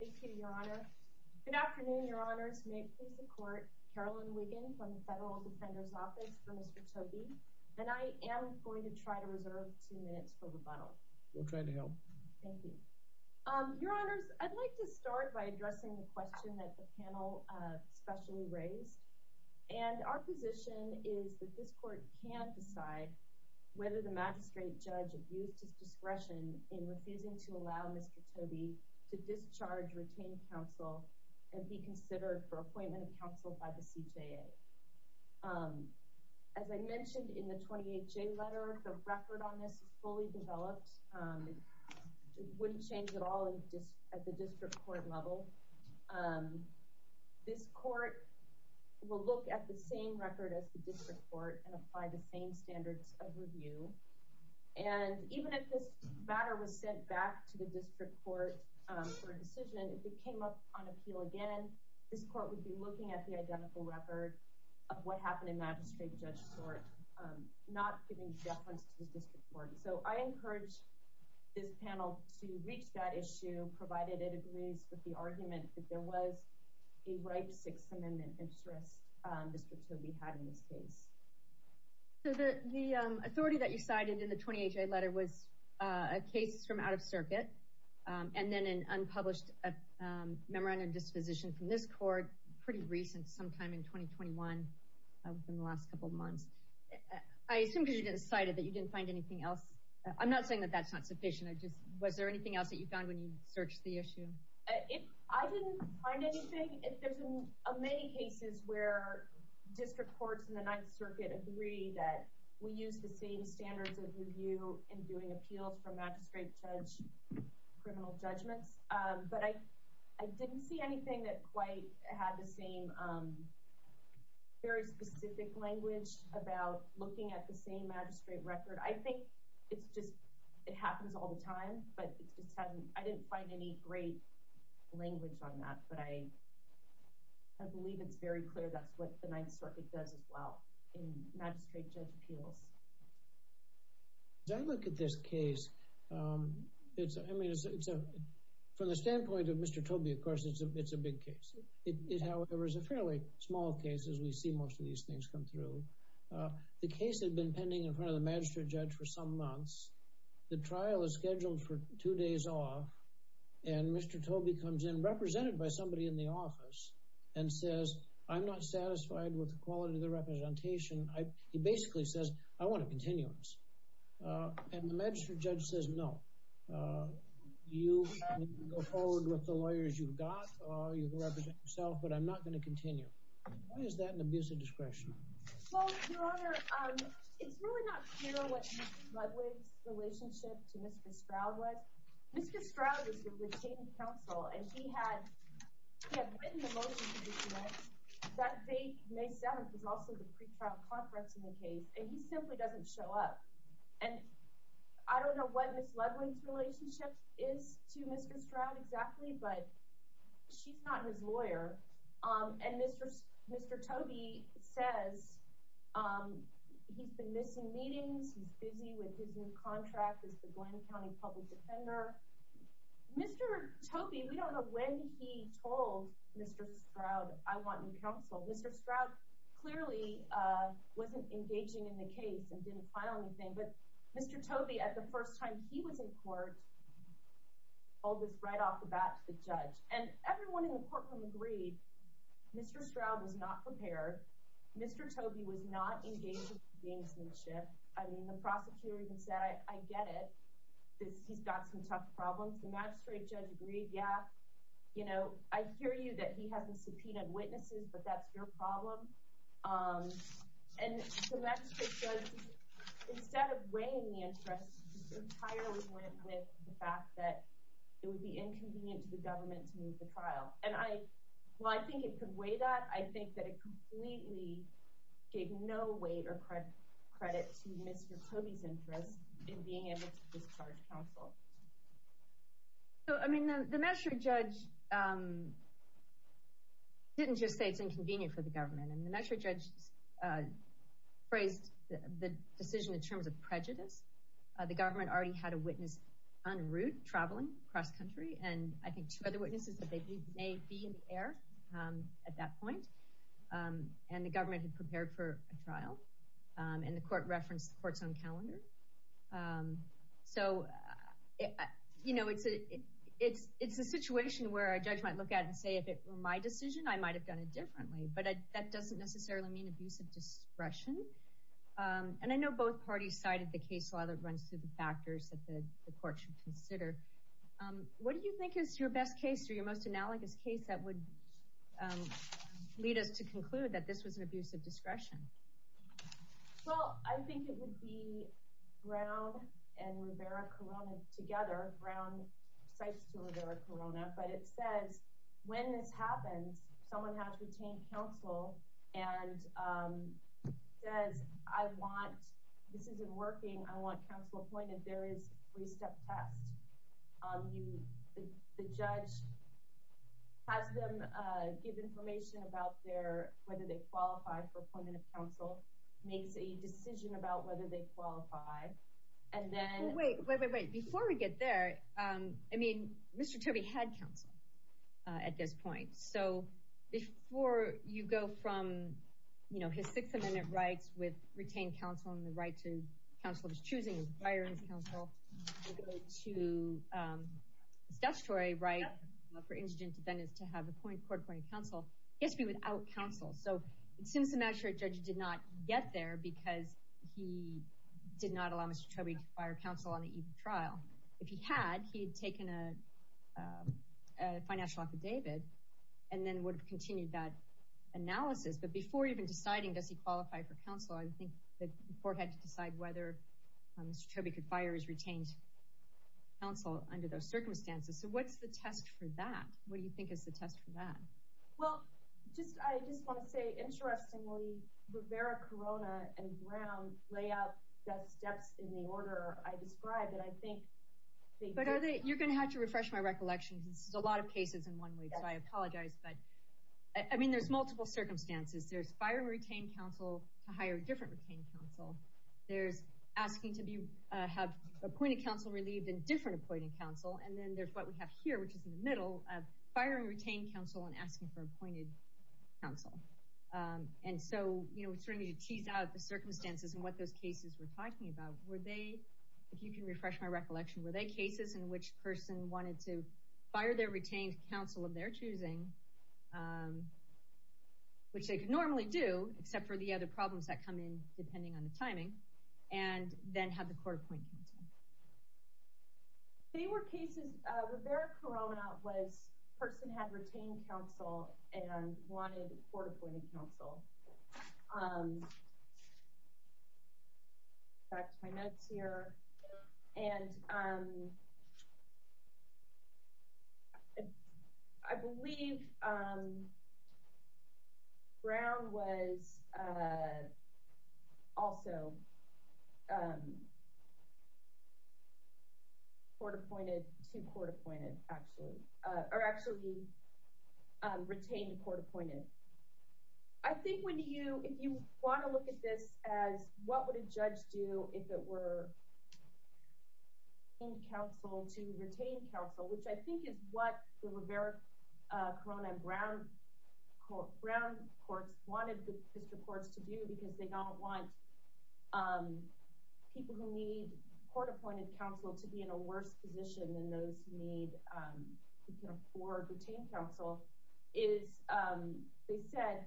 Thank you, Your Honor. Good afternoon, Your Honors. May it please the Court, Carolyn Wiggin from the Federal Defender's Office for Mr. Tobey. And I am going to try to reserve two minutes for rebuttal. We'll try to help. Thank you. Your Honors, I'd like to start by addressing the question that the panel specially raised. And our position is that this Court can't decide whether the magistrate judge abused his discretion in refusing to allow Mr. Tobey to retain counsel and be considered for appointment of counsel by the CJA. As I mentioned in the 28J letter, the record on this is fully developed. Wouldn't change at all at the district court level. This court will look at the same record as the district court and apply the same standards of review. And even if this matter was sent back to the district court for a decision, if it came up on appeal again, this court would be looking at the identical record of what happened in magistrate judge sort, not giving deference to the district court. So I encourage this panel to reach that issue, provided it agrees with the argument that there was a ripe Sixth Amendment interest Mr. Tobey had in this case. So the authority that you cited in the 28J letter was a case from out of circuit, and then an unpublished memorandum of disposition from this court, pretty recent sometime in 2021, in the last couple of months. I assume because you didn't cite it that you didn't find anything else. I'm not saying that that's not sufficient. I just was there anything else that you found when you searched the issue? If I didn't find anything, if there's a many cases where district courts in the circuit agree that we use the same standards of review in doing appeals for magistrate judge, criminal judgments, but I, I didn't see anything that quite had the same very specific language about looking at the same magistrate record. I think it's just, it happens all the time, but I didn't find any great language on that. But I believe it's very clear. That's what the Ninth Circuit does as well in magistrate judge appeals. As I look at this case, it's, I mean, it's a, from the standpoint of Mr. Tobey, of course, it's a, it's a big case. It, however, is a fairly small case as we see most of these things come through. The case had been pending in front of the magistrate judge for some months. The trial is scheduled for two days off. And Mr. Tobey comes in, represented by somebody in the side with the quality of the representation. He basically says, I want a continuance. And the magistrate judge says, no. You can go forward with the lawyers you've got, or you can represent yourself, but I'm not gonna continue. Why is that an abuse of discretion? Well, your honor, it's really not clear what Mr. Ludwig's relationship to Mr. Stroud was. Mr. Stroud is the retained counsel, and he had, he had written the motion to disconnect. That date, May 7th, was also the pretrial conference in the case, and he simply doesn't show up. And I don't know what Ms. Ludwig's relationship is to Mr. Stroud exactly, but she's not his lawyer. And Mr. Tobey says he's been missing meetings, he's busy with his new contract as the Glynn County Public Defender. Mr. Tobey, we don't know when he told Mr. Stroud, I want new counsel. Mr. Stroud clearly wasn't engaging in the case and didn't file anything, but Mr. Tobey, at the first time he was in court, told this right off the bat to the judge. And everyone in the courtroom agreed, Mr. Stroud was not prepared. Mr. Tobey was not engaged in the relationship. I mean, the prosecutor even said, I get it. He's got some tough problems. The magistrate judge agreed, yeah. I hear you, that he hasn't subpoenaed witnesses, but that's your problem. And the magistrate judge, instead of weighing the interest, just entirely went with the fact that it would be inconvenient to the government to move the trial. And I... Well, I think it could weigh that. I think that it completely gave no weight or credit to Mr. Tobey's interest in being able to discharge counsel. So, I mean, the magistrate judge didn't just say it's inconvenient for the government. And the magistrate judge phrased the decision in terms of prejudice. The government already had a witness en route, traveling cross country, and I think two other witnesses that may be in the air at that point. And the government had prepared for a trial, and the court referenced the court's own calendar. So, it's a situation where a judge might look at it and say, if it were my decision, I might have done it differently. But that doesn't necessarily mean abusive discretion. And I know both parties cited the case law that runs through the factors that the court should consider. What do you think is your best case, or your most analogous case, that would lead us to conclude that this was an abuse of discretion? Well, I think it would be Brown and Rivera Corona together. Brown cites to Rivera Corona, but it says, when this happens, someone has to obtain counsel and says, I want... This isn't working. I want counsel appointed. There is a three step test. The judge has them give information about whether they qualify for appointment of counsel, makes a decision about whether they qualify, and then... Wait, wait, wait, wait. Before we get there, I mean, Mr. Turby had counsel at this point. So, before you go from his Sixth Amendment rights with retained counsel, and the right to counsel of his choosing, his firing counsel, to statutory right for indigent defendants to have a court appointed counsel, he has to be without counsel. So, it seems the magistrate judge did not get there because he did not allow Mr. Turby to fire counsel on the eve of trial. If he had, he'd taken a financial affidavit, and then would have continued that analysis. But before even deciding, does he qualify for counsel? I think the court had to decide whether Mr. Turby could fire his retained counsel under those circumstances. So, what's the test for that? What do you think is the test for that? Well, I just wanna say, interestingly, Rivera, Corona, and Brown lay out the steps in the order I described, and I think... But are they... You're gonna have to refresh my recollection, because this is a lot of cases in one week, so I apologize. But there's multiple circumstances. There's firing retained counsel to hire a different retained counsel. There's asking to have appointed counsel relieved in different appointed counsel. And then there's what we have here, which is in the middle, of firing retained counsel and asking for appointed counsel. And so, we're starting to tease out the circumstances and what those cases we're talking about. Were they... If you can refresh my recollection, were they cases in which a person wanted to fire their retained counsel of their choosing, which they could normally do, except for the other problems that come in depending on the timing, and then have the court appoint counsel? They were cases... Rivera, Corona was a person who had retained counsel and wanted court appointed counsel. Back to my notes here. And I believe Brown was also court appointed to court appointed, actually. Or actually, retained court appointed. I think when you... If you wanna look at this as, what would a judge do if it were in counsel to retain counsel, which I think is what the Rivera, Corona, and Brown courts wanted the district courts to do, because they don't want people who need court appointed counsel to be in a worse position than those who need... Who can afford retained counsel, is... They said,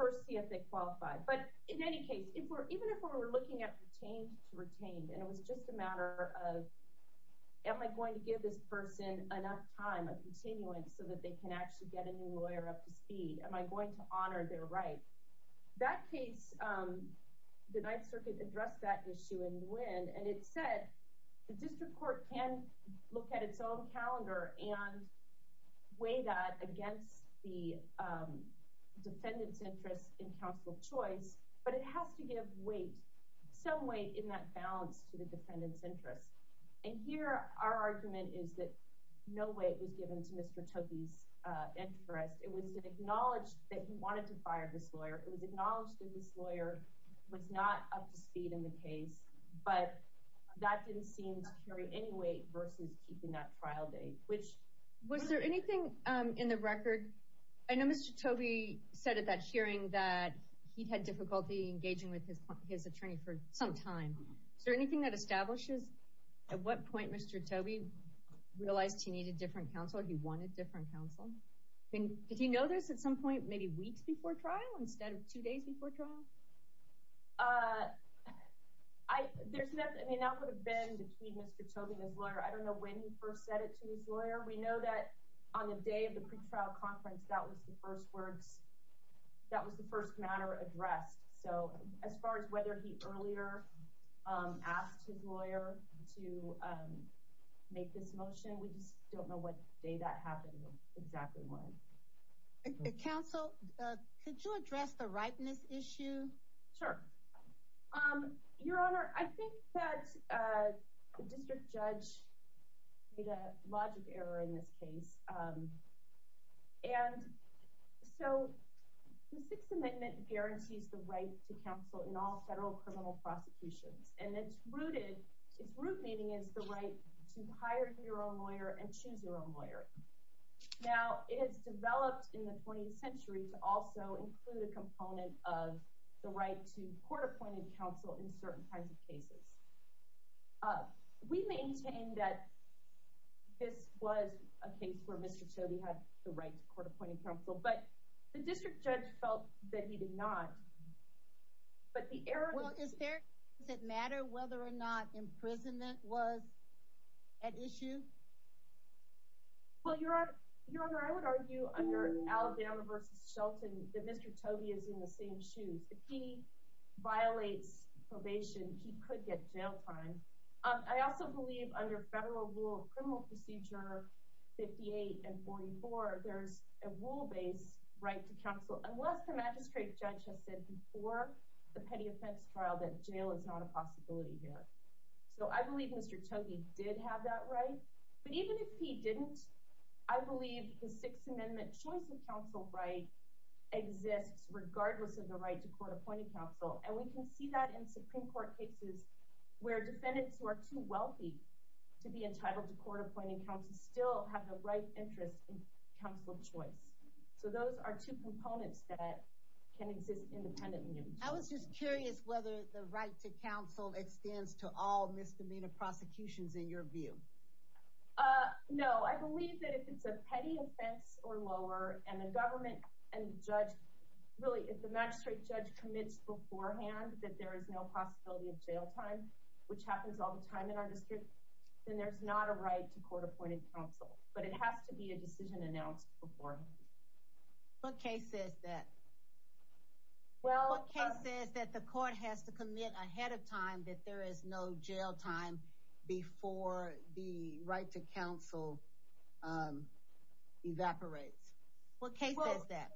first see if they qualify. But in any case, even if we were looking at retained to retained, and it was just a matter of, am I going to give this person enough time, a continuance, so that they can actually get a new lawyer up to speed? Am I going to honor their right? That case, the Ninth Circuit addressed that issue in Nguyen, and it said, the district court can look at its own calendar and weigh that against the defendant's interest in counsel choice, but it has to give weight, some weight in that balance to the defendant's interest. And here, our argument is that no weight was given to Mr. Toki's interest. It was acknowledged that he wanted to fire this lawyer. It was acknowledged that this lawyer was not up to speed in the case, but that didn't seem to carry any weight versus keeping that trial date, which... Was there anything in the record... I know Mr. Tobi said at that hearing that he'd had difficulty engaging with his attorney for some time. Is there anything that establishes at what point Mr. Tobi realized he needed different counsel, he wanted different counsel? Did he know this at some point, maybe weeks before trial, instead of two days before trial? There's nothing... I mean, that would have been between Mr. Tobi and his lawyer. I don't know when he first said it to his lawyer. We know that on the day of the pretrial conference, that was the first words... That was the first matter addressed. So as far as whether he earlier asked his lawyer to make this motion, we just don't know what day that happened or exactly when. Counsel, could you address the ripeness issue? Sure. Your Honor, I think that the district judge made a logic error in this case. And so the Sixth Amendment guarantees the right to counsel in all federal criminal prosecutions. And it's rooted... It's root meaning is the right to hire your own lawyer and choose your own lawyer. Now, it has developed in the 20th century to also include a component of the right to court appointed counsel in certain kinds of cases. We maintain that this was a case where Mr. Tobi had the right to court appointed counsel, but the district judge felt that he did not. But the error... Well, is there... Does it matter whether or not imprisonment was at issue? Well, Your Honor, I would argue under Alabama versus Shelton, that Mr. Tobi is in the same shoes. If he violates probation, he could get jail time. I also believe under federal rule of criminal procedure 58 and 44, there's a rule based right to counsel, unless the magistrate judge has said before the petty offense trial that jail is not a possibility here. So I believe Mr. Tobi did have that right. But even if he didn't, I believe the Sixth Amendment choice of counsel right exists regardless of the right to court appointed counsel. And we can see that in Supreme Court cases where defendants who are too wealthy to be entitled to court appointed counsel still have the right interest in counsel choice. So those are two components that can exist independently. I was just curious whether the right to counsel extends to all misdemeanor prosecutions in your view. No, I believe that if it's a petty offense or lower and the government and judge... Really, if the magistrate judge commits beforehand that there is no possibility of jail time, which happens all the time in our district, then there's not a right to court appointed counsel. But it has to be a decision announced beforehand. What case says that? Well... What case says that the court has to commit ahead of time that there is no jail time before the right to counsel evaporates? What case says that?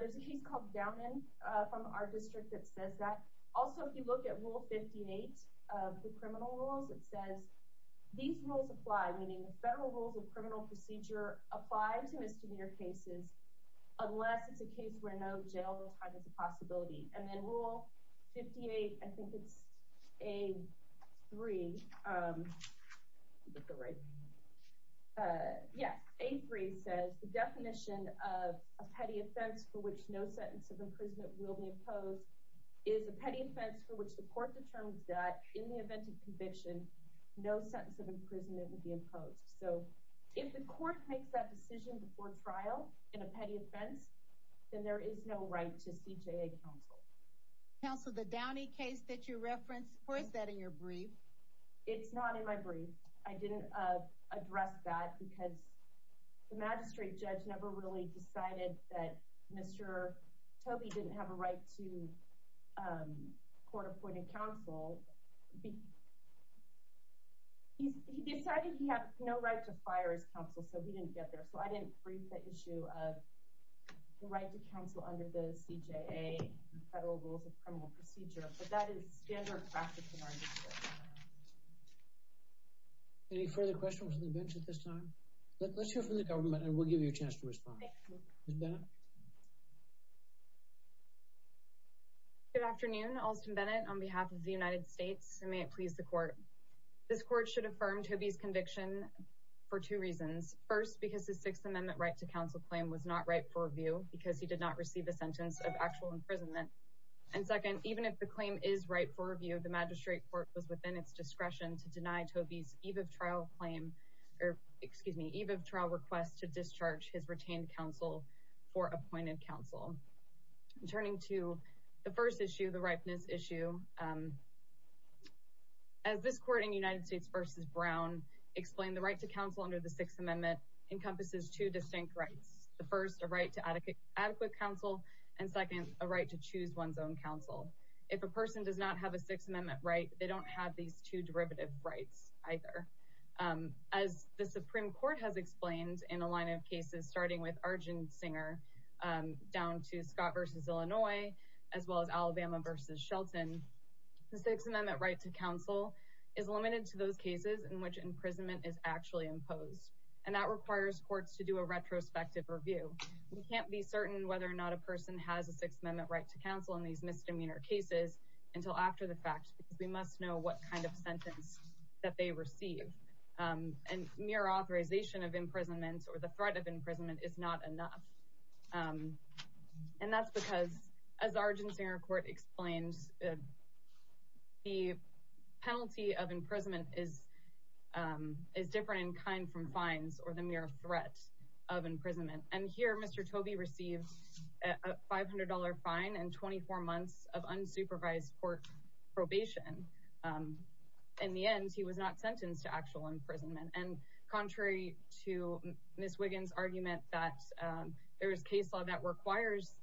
There's a case called Downand from our district that says that. Also, if you look at Rule 58 of the criminal rules, it says, these rules apply, meaning the federal rules of criminal procedure apply to misdemeanor cases, unless it's a case where no jail time is a possibility. And then Rule 58, I think it's A3... Yes, A3 says, the definition of a petty offense for which no sentence of imprisonment will be imposed is a petty offense for which the court determines that in the event of conviction, no sentence of imprisonment will be imposed. So if the court makes that decision before trial in a petty offense, then there is no right to CJA counsel. Counsel, the Downey case that you referenced, or is that in your brief? It's not in my brief. I didn't address that because the magistrate judge never really decided that Mr. Toby didn't have a right to court appointed counsel. He decided he had no right to fire his counsel, so he didn't get there. So I didn't brief the issue of the right to counsel under the CJA federal rules of criminal procedure, but that is standard practice in our district. Any further questions from the bench at this time? Let's hear from the government and we'll give you a chance to respond. Ms. Bennett? Good afternoon, Alston Bennett on behalf of the United States, and may it please the court. This court should affirm Toby's conviction for two reasons. First, because the Sixth Amendment right to counsel claim was not right for review because he did not receive a sentence of actual imprisonment. And second, even if the claim is right for review, the magistrate court was within its discretion to deny Toby's eve of trial claim, or excuse me, eve of trial request to discharge his retained counsel for appointed counsel. Turning to the first issue, the ripeness issue, as this court in United States v. Brown explained, the right to counsel under the Sixth Amendment encompasses two distinct rights. The first, a right to adequate counsel, and second, a right to choose one's own counsel. If a person does not have a Sixth Amendment right, they don't have these two derivative rights either. As the Supreme Court has explained in a line of cases starting with Arjun Singer, down to Scott v. Illinois, as well as Alabama v. Shelton, the Sixth Amendment right to counsel is limited to those cases in which imprisonment is actually imposed, and that requires courts to do a retrospective review. We can't be certain whether or not a person has a Sixth Amendment right to counsel in these misdemeanor cases until after the fact, because we must know what kind of sentence that they receive. And mere authorization of imprisonment or the threat of imprisonment is not enough. And that's because, as Arjun Singer Court explains, the penalty of imprisonment is different in kind from fines or the mere threat of imprisonment. And here, Mr. Tobey received a $500 fine and 24 months of unsupervised court probation. In the end, he was not sentenced to actual imprisonment. And contrary to Ms. Wiggins' argument that there is case law that requires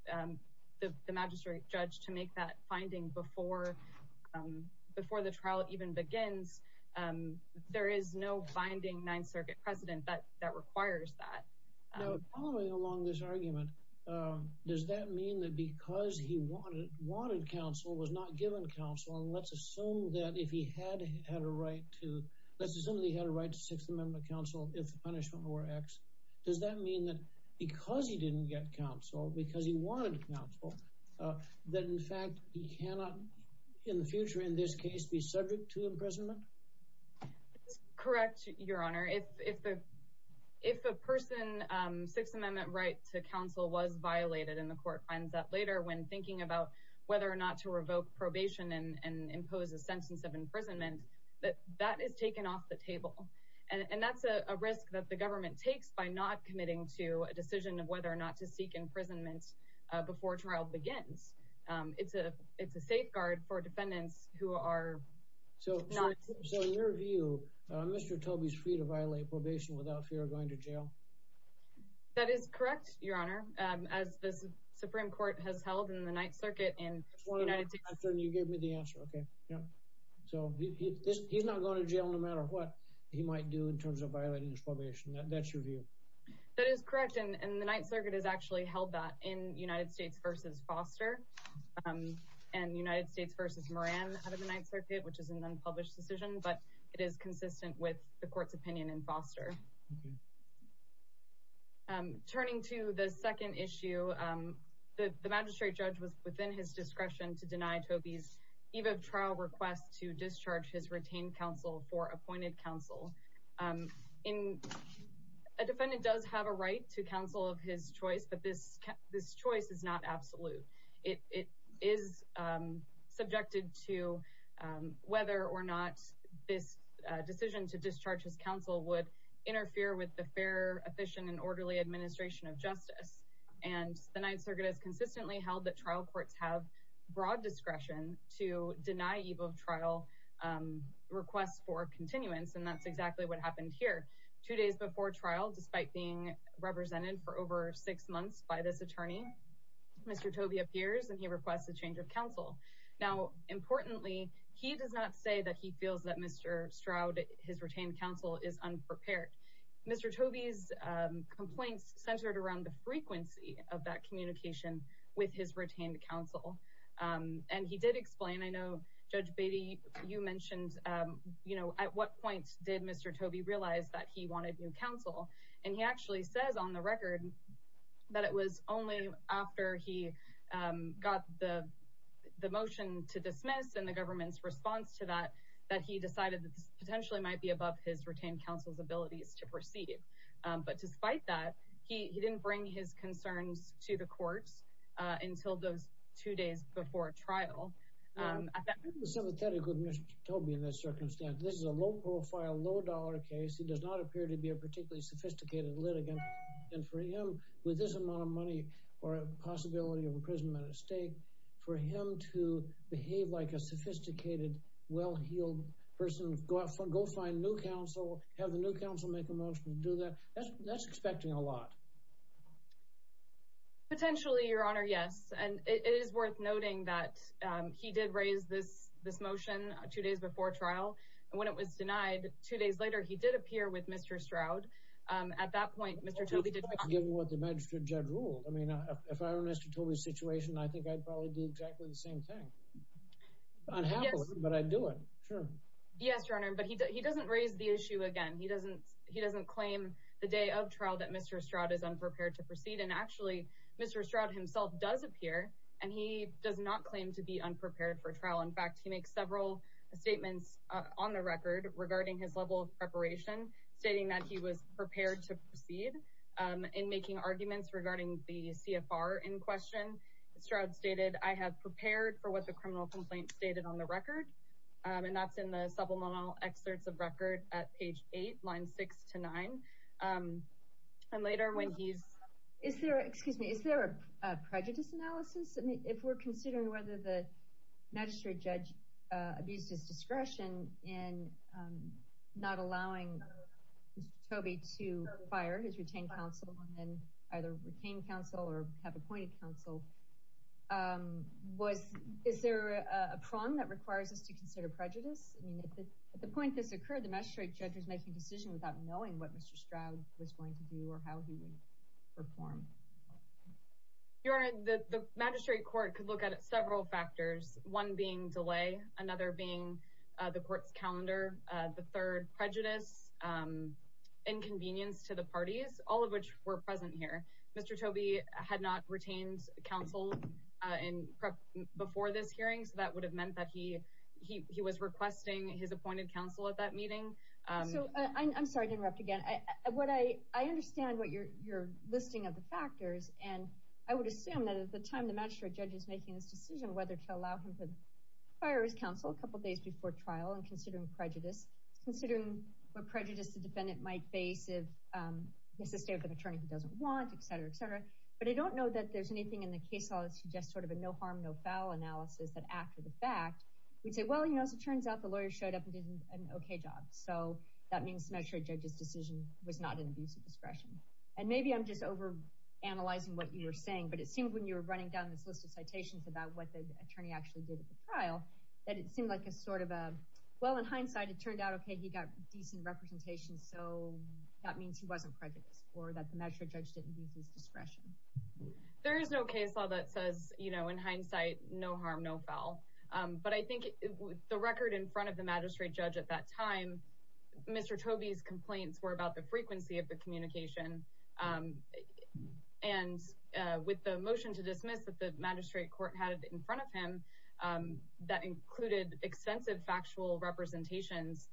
the magistrate judge to make that finding before the trial even begins, there is no binding Ninth Circuit precedent that requires that. Now, following along this argument, does that mean that because he wanted counsel, was not given counsel, and let's assume that if he had had a right to, let's assume that he had a right to Sixth Amendment counsel if the punishment were X, does that mean that because he didn't get counsel, because he wanted counsel, that in fact he cannot, in the future, in this case, be subject to imprisonment? That's correct, Your Honor. If a person's Sixth Amendment right to counsel was violated, and the court finds that later when thinking about whether or not to revoke probation and impose a sentence of imprisonment, that is taken off the table. And that's a risk that the government takes by not committing to a decision of whether or not to seek imprisonment before trial begins. It's a Mr. Tobey's free to violate probation without fear of going to jail? That is correct, Your Honor, as the Supreme Court has held in the Ninth Circuit in the United States. You gave me the answer, okay. So he's not going to jail no matter what he might do in terms of violating his probation. That's your view? That is correct, and the Ninth Circuit has actually held that in United States v. Foster and United States v. Moran out of the Ninth Circuit, which is an unpublished decision, but it is consistent with the court's opinion in Foster. Turning to the second issue, the magistrate judge was within his discretion to deny Tobey's eve of trial request to discharge his retained counsel for appointed counsel. A defendant does have a right to counsel of his choice, but this choice is not absolute. It is subjected to whether or not this decision to discharge his counsel would interfere with the fair, efficient, and orderly administration of justice, and the Ninth Circuit has consistently held that trial courts have broad discretion to deny eve of trial requests for continuance, and that's exactly what happened here. Two days before trial, despite being represented for over six months by this attorney, Mr. Tobey appears and he requests a change of counsel. Now, importantly, he does not say that he feels that Mr. Stroud, his retained counsel, is unprepared. Mr. Tobey's complaints centered around the frequency of that communication with his retained counsel, and he did explain. I know, Judge Beatty, you mentioned, you know, at what point did Mr. Tobey realize that he wanted new He actually says on the record that it was only after he got the motion to dismiss and the government's response to that, that he decided that this potentially might be above his retained counsel's abilities to proceed, but despite that, he didn't bring his concerns to the courts until those two days before trial. I think the sympathetic with Mr. Tobey in this circumstance, this is a low-profile, low-dollar case. It does not appear to be a particularly sophisticated litigant, and for him, with this amount of money or a possibility of imprisonment at stake, for him to behave like a sophisticated, well-heeled person, go find new counsel, have the new counsel make a motion to do that, that's expecting a lot. Potentially, Your Honor, yes, and it is worth noting that he did raise this motion two days before trial, and when it was denied, two days later, he did appear with Mr. Stroud. At that point, Mr. Tobey did not... Well, given what the magistrate judge ruled. I mean, if I were Mr. Tobey's situation, I think I'd probably do exactly the same thing. I'd have it, but I'd do it, sure. Yes, Your Honor, but he doesn't raise the issue again. He doesn't claim the day of trial that Mr. Stroud is unprepared to proceed, and actually, Mr. Stroud himself does appear, and he does not claim to be unprepared for trial. In fact, he makes several statements on the record regarding his level of preparation, stating that he was prepared to proceed. In making arguments regarding the CFR in question, Mr. Stroud stated, I have prepared for what the criminal complaint stated on the record, and that's in the subliminal excerpts of record at page 8, lines 6 to 9. And later, when he's... Excuse me, is there a prejudice analysis? I mean, if we're considering whether the magistrate judge abused his discretion in not allowing Mr. Tobey to fire his retained counsel, and then either retain counsel or have appointed counsel, is there a prong that requires us to consider prejudice? I mean, at the point this occurred, the magistrate judge was making a decision without knowing what Mr. Stroud was going to do or how he would perform. Your Honor, the magistrate court could look at several factors, one being delay, another being the court's calendar, the third, prejudice, inconvenience to the parties, all of which were present here. Mr. Tobey had not retained counsel before this hearing, so that would have meant that he was requesting his appointed counsel at that meeting. So, I'm sorry to interrupt again. What I... I understand what you're listing of the factors, and I would assume that at the time the magistrate judge is making this decision, whether to allow him to fire his counsel a couple days before trial and considering prejudice, considering what prejudice the defendant might face if he has to stay with an attorney he doesn't want, et cetera, et cetera. But I don't know that there's anything in the case law that suggests sort of a no-harm, no-foul analysis that after the fact, we'd say, well, as it turns out, the lawyer showed up and did an okay job. So, that means the magistrate judge's decision was not an abuse of analyzing what you were saying. But it seems when you were running down this list of citations about what the attorney actually did at the trial, that it seemed like a sort of a, well, in hindsight, it turned out, okay, he got decent representation, so that means he wasn't prejudiced or that the magistrate judge didn't use his discretion. There is no case law that says, you know, in hindsight, no harm, no foul. But I think the record in front of the magistrate judge at that time, Mr. Tobey's complaints were about the and with the motion to dismiss that the magistrate court had in front of him, that included extensive factual representations.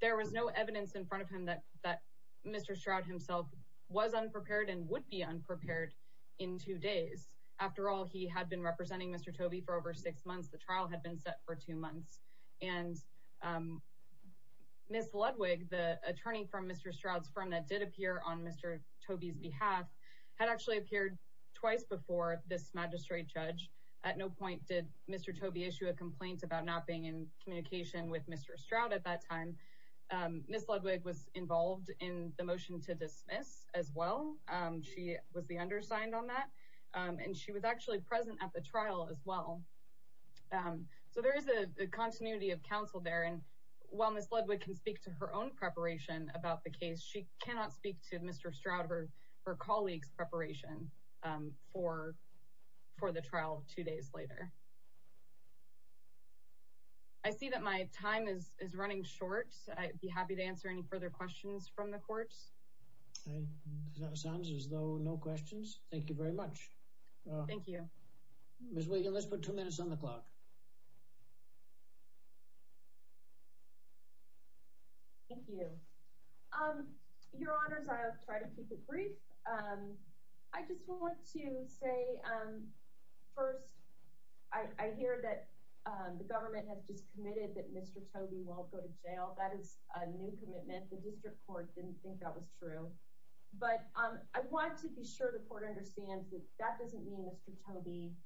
There was no evidence in front of him that Mr. Stroud himself was unprepared and would be unprepared in two days. After all, he had been representing Mr. Tobey for over six months. The trial had been set for two months. And Ms. Ludwig, the attorney from Mr. Stroud's firm that did appear on Mr. Tobey's behalf, had actually appeared twice before this magistrate judge. At no point did Mr. Tobey issue a complaint about not being in communication with Mr. Stroud at that time. Ms. Ludwig was involved in the motion to dismiss as well. She was the undersigned on that. And she was actually present at the trial as well. So there is a continuity of counsel there. And while Ms. Ludwig can speak to her own preparation about the case, she cannot speak to Mr. Stroud or her colleague's preparation for the trial two days later. I see that my time is running short. I'd be happy to answer any further questions from the courts. Okay. That sounds as though no questions. Thank you very much. Thank you. Ms. Wiegand, let's put two minutes on the clock. Thank you. Your Honors, I'll try to keep it brief. I just want to say, first, I hear that the government has just committed that Mr. Tobey won't go to jail. That is a new commitment. The district court didn't think that was true. But I want to be sure the court understands that that doesn't mean Mr. Tobey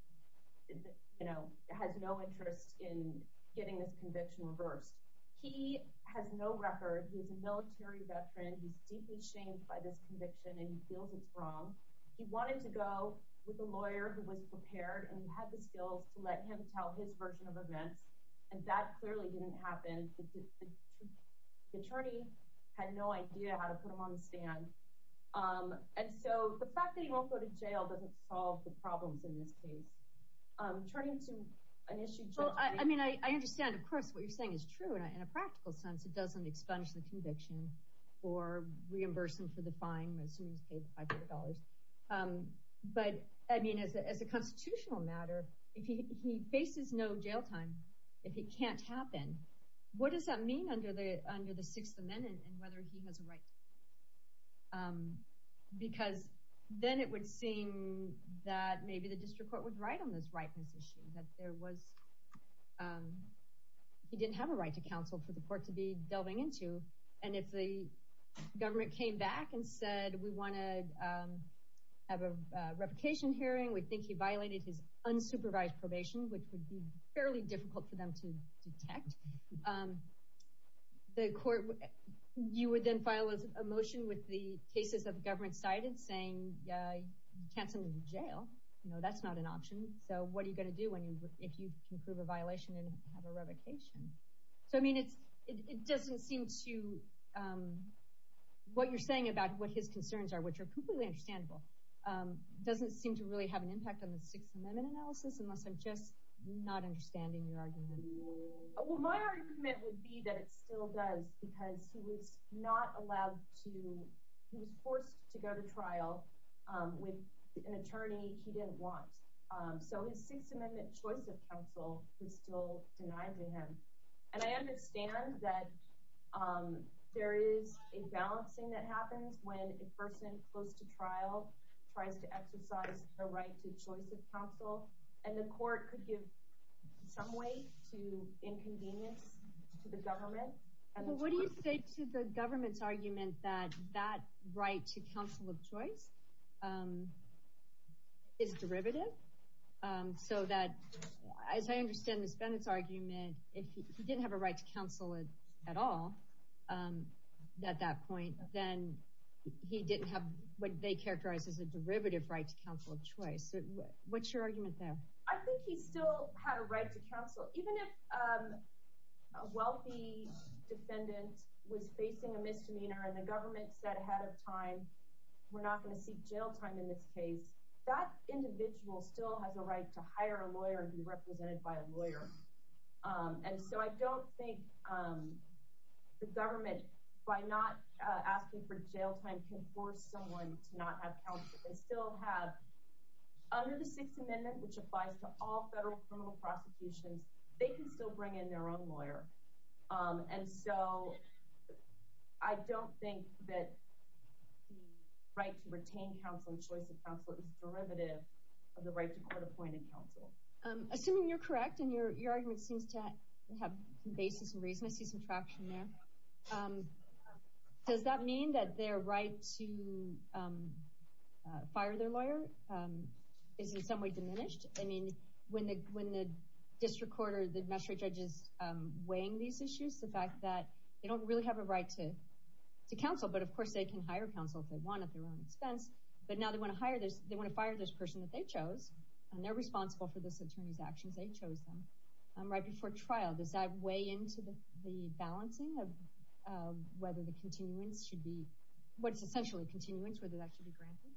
has no interest in getting this conviction reversed. He has no record. He's a military veteran. He's deeply shamed by this conviction, and he feels it's wrong. He wanted to go with a lawyer who was prepared and who had the skills to let him tell his version of events. And that clearly didn't happen. The attorney had no idea how to put him on the stand. And so the fact that he won't go to jail doesn't solve the problems in this case. Turning to an issue, Judge Wiegand. I mean, I understand, of course, what you're saying is true. In a practical sense, it doesn't expunge the conviction or reimburse him for the fine, assuming he's paid $500. But, I mean, as a constitutional matter, if he faces no jail time, if it can't happen, what does that mean under the Sixth Amendment and whether he has a right? Because then it would seem that maybe the district court would write on this rightness issue, that there was—he didn't have a right to counsel for the court to be delving into. And if the government came back and said, we want to have a revocation hearing, we think he violated his unsupervised probation, which would be fairly difficult for them to detect, the court—you would then file a motion with the cases that the government cited saying, you can't send him to jail. You know, that's not an option. So what are you going to do if you can prove a violation and have a revocation? So, I mean, it doesn't seem to—what you're saying about what his concerns are, which are completely understandable, doesn't seem to really have an impact on the Sixth Amendment analysis, unless I'm just not understanding your argument. Well, my argument would be that it still does, because he was not allowed to—he was forced to go to trial with an attorney he didn't want. So his Sixth Amendment—and I understand that there is a balancing that happens when a person close to trial tries to exercise their right to choice of counsel, and the court could give some weight to inconvenience to the government. But what do you say to the government's argument that that right to counsel of choice—if he didn't have a right to counsel at all at that point, then he didn't have what they characterize as a derivative right to counsel of choice. What's your argument there? I think he still had a right to counsel. Even if a wealthy defendant was facing a misdemeanor and the government said ahead of time, we're not going to seek jail time in this case, that individual still has a right to hire a lawyer and so I don't think the government, by not asking for jail time, can force someone to not have counsel. They still have, under the Sixth Amendment, which applies to all federal criminal prosecutions, they can still bring in their own lawyer. And so I don't think that the right to retain counsel and choice of counsel is derivative of the right to court-appointed counsel. Assuming you're correct and your argument seems to have some basis and reason, I see some traction there, does that mean that their right to fire their lawyer is in some way diminished? I mean, when the district court or the magistrate judge is weighing these issues, the fact that they don't really have a right to counsel, but of course they can hire counsel if they want at their own expense, but now they want to fire this person that they chose, and they're responsible for this attorney's actions, they chose them, right before trial, does that weigh into the balancing of whether the continuance should be, what's essentially continuance, whether that should be granted?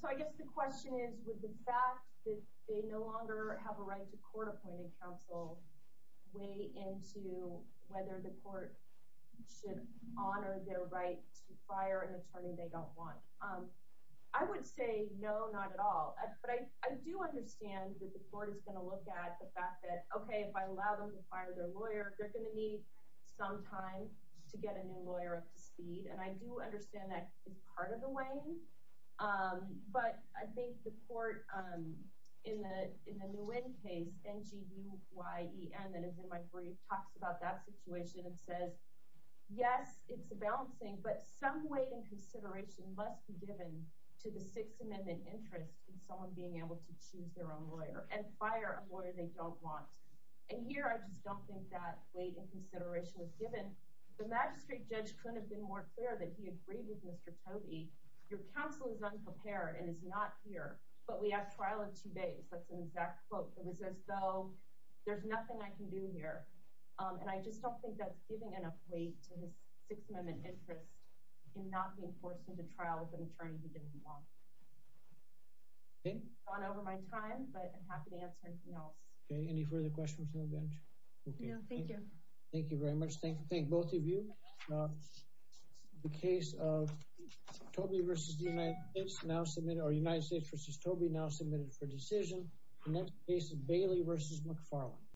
So I guess the question is, would the fact that they no longer have a right to court-appointed counsel weigh into whether the court should honor their right to fire an attorney they don't want? I would say no, not at all, but I do understand that the court is going to look at the fact that, okay, if I allow them to fire their lawyer, they're going to need some time to get a new lawyer up to speed, and I do understand that is part of the weighing, but I think the court, in the Nguyen case, N-G-U-Y-E-N, that is in my brief, talks about that situation and says, yes, it's balancing, but some weight and consideration must be given to the Sixth Amendment interest in someone being able to choose their own lawyer and fire a lawyer they don't want, and here I just don't think that weight and consideration was given. The magistrate judge couldn't have been more clear that he agreed with Mr. Tobey, your counsel is unprepared and is not here, but we have trial in two days, that's an exact quote, it was as though there's nothing I weigh to his Sixth Amendment interest in not being forced into trial with an attorney he didn't want. Okay, I've gone over my time, but I'm happy to answer anything else. Okay, any further questions on the bench? No, thank you. Thank you very much, thank both of you. The case of Tobey v. United States now submitted, or United States v. Tobey now submitted for decision, the next case is Bailey v. McFarland.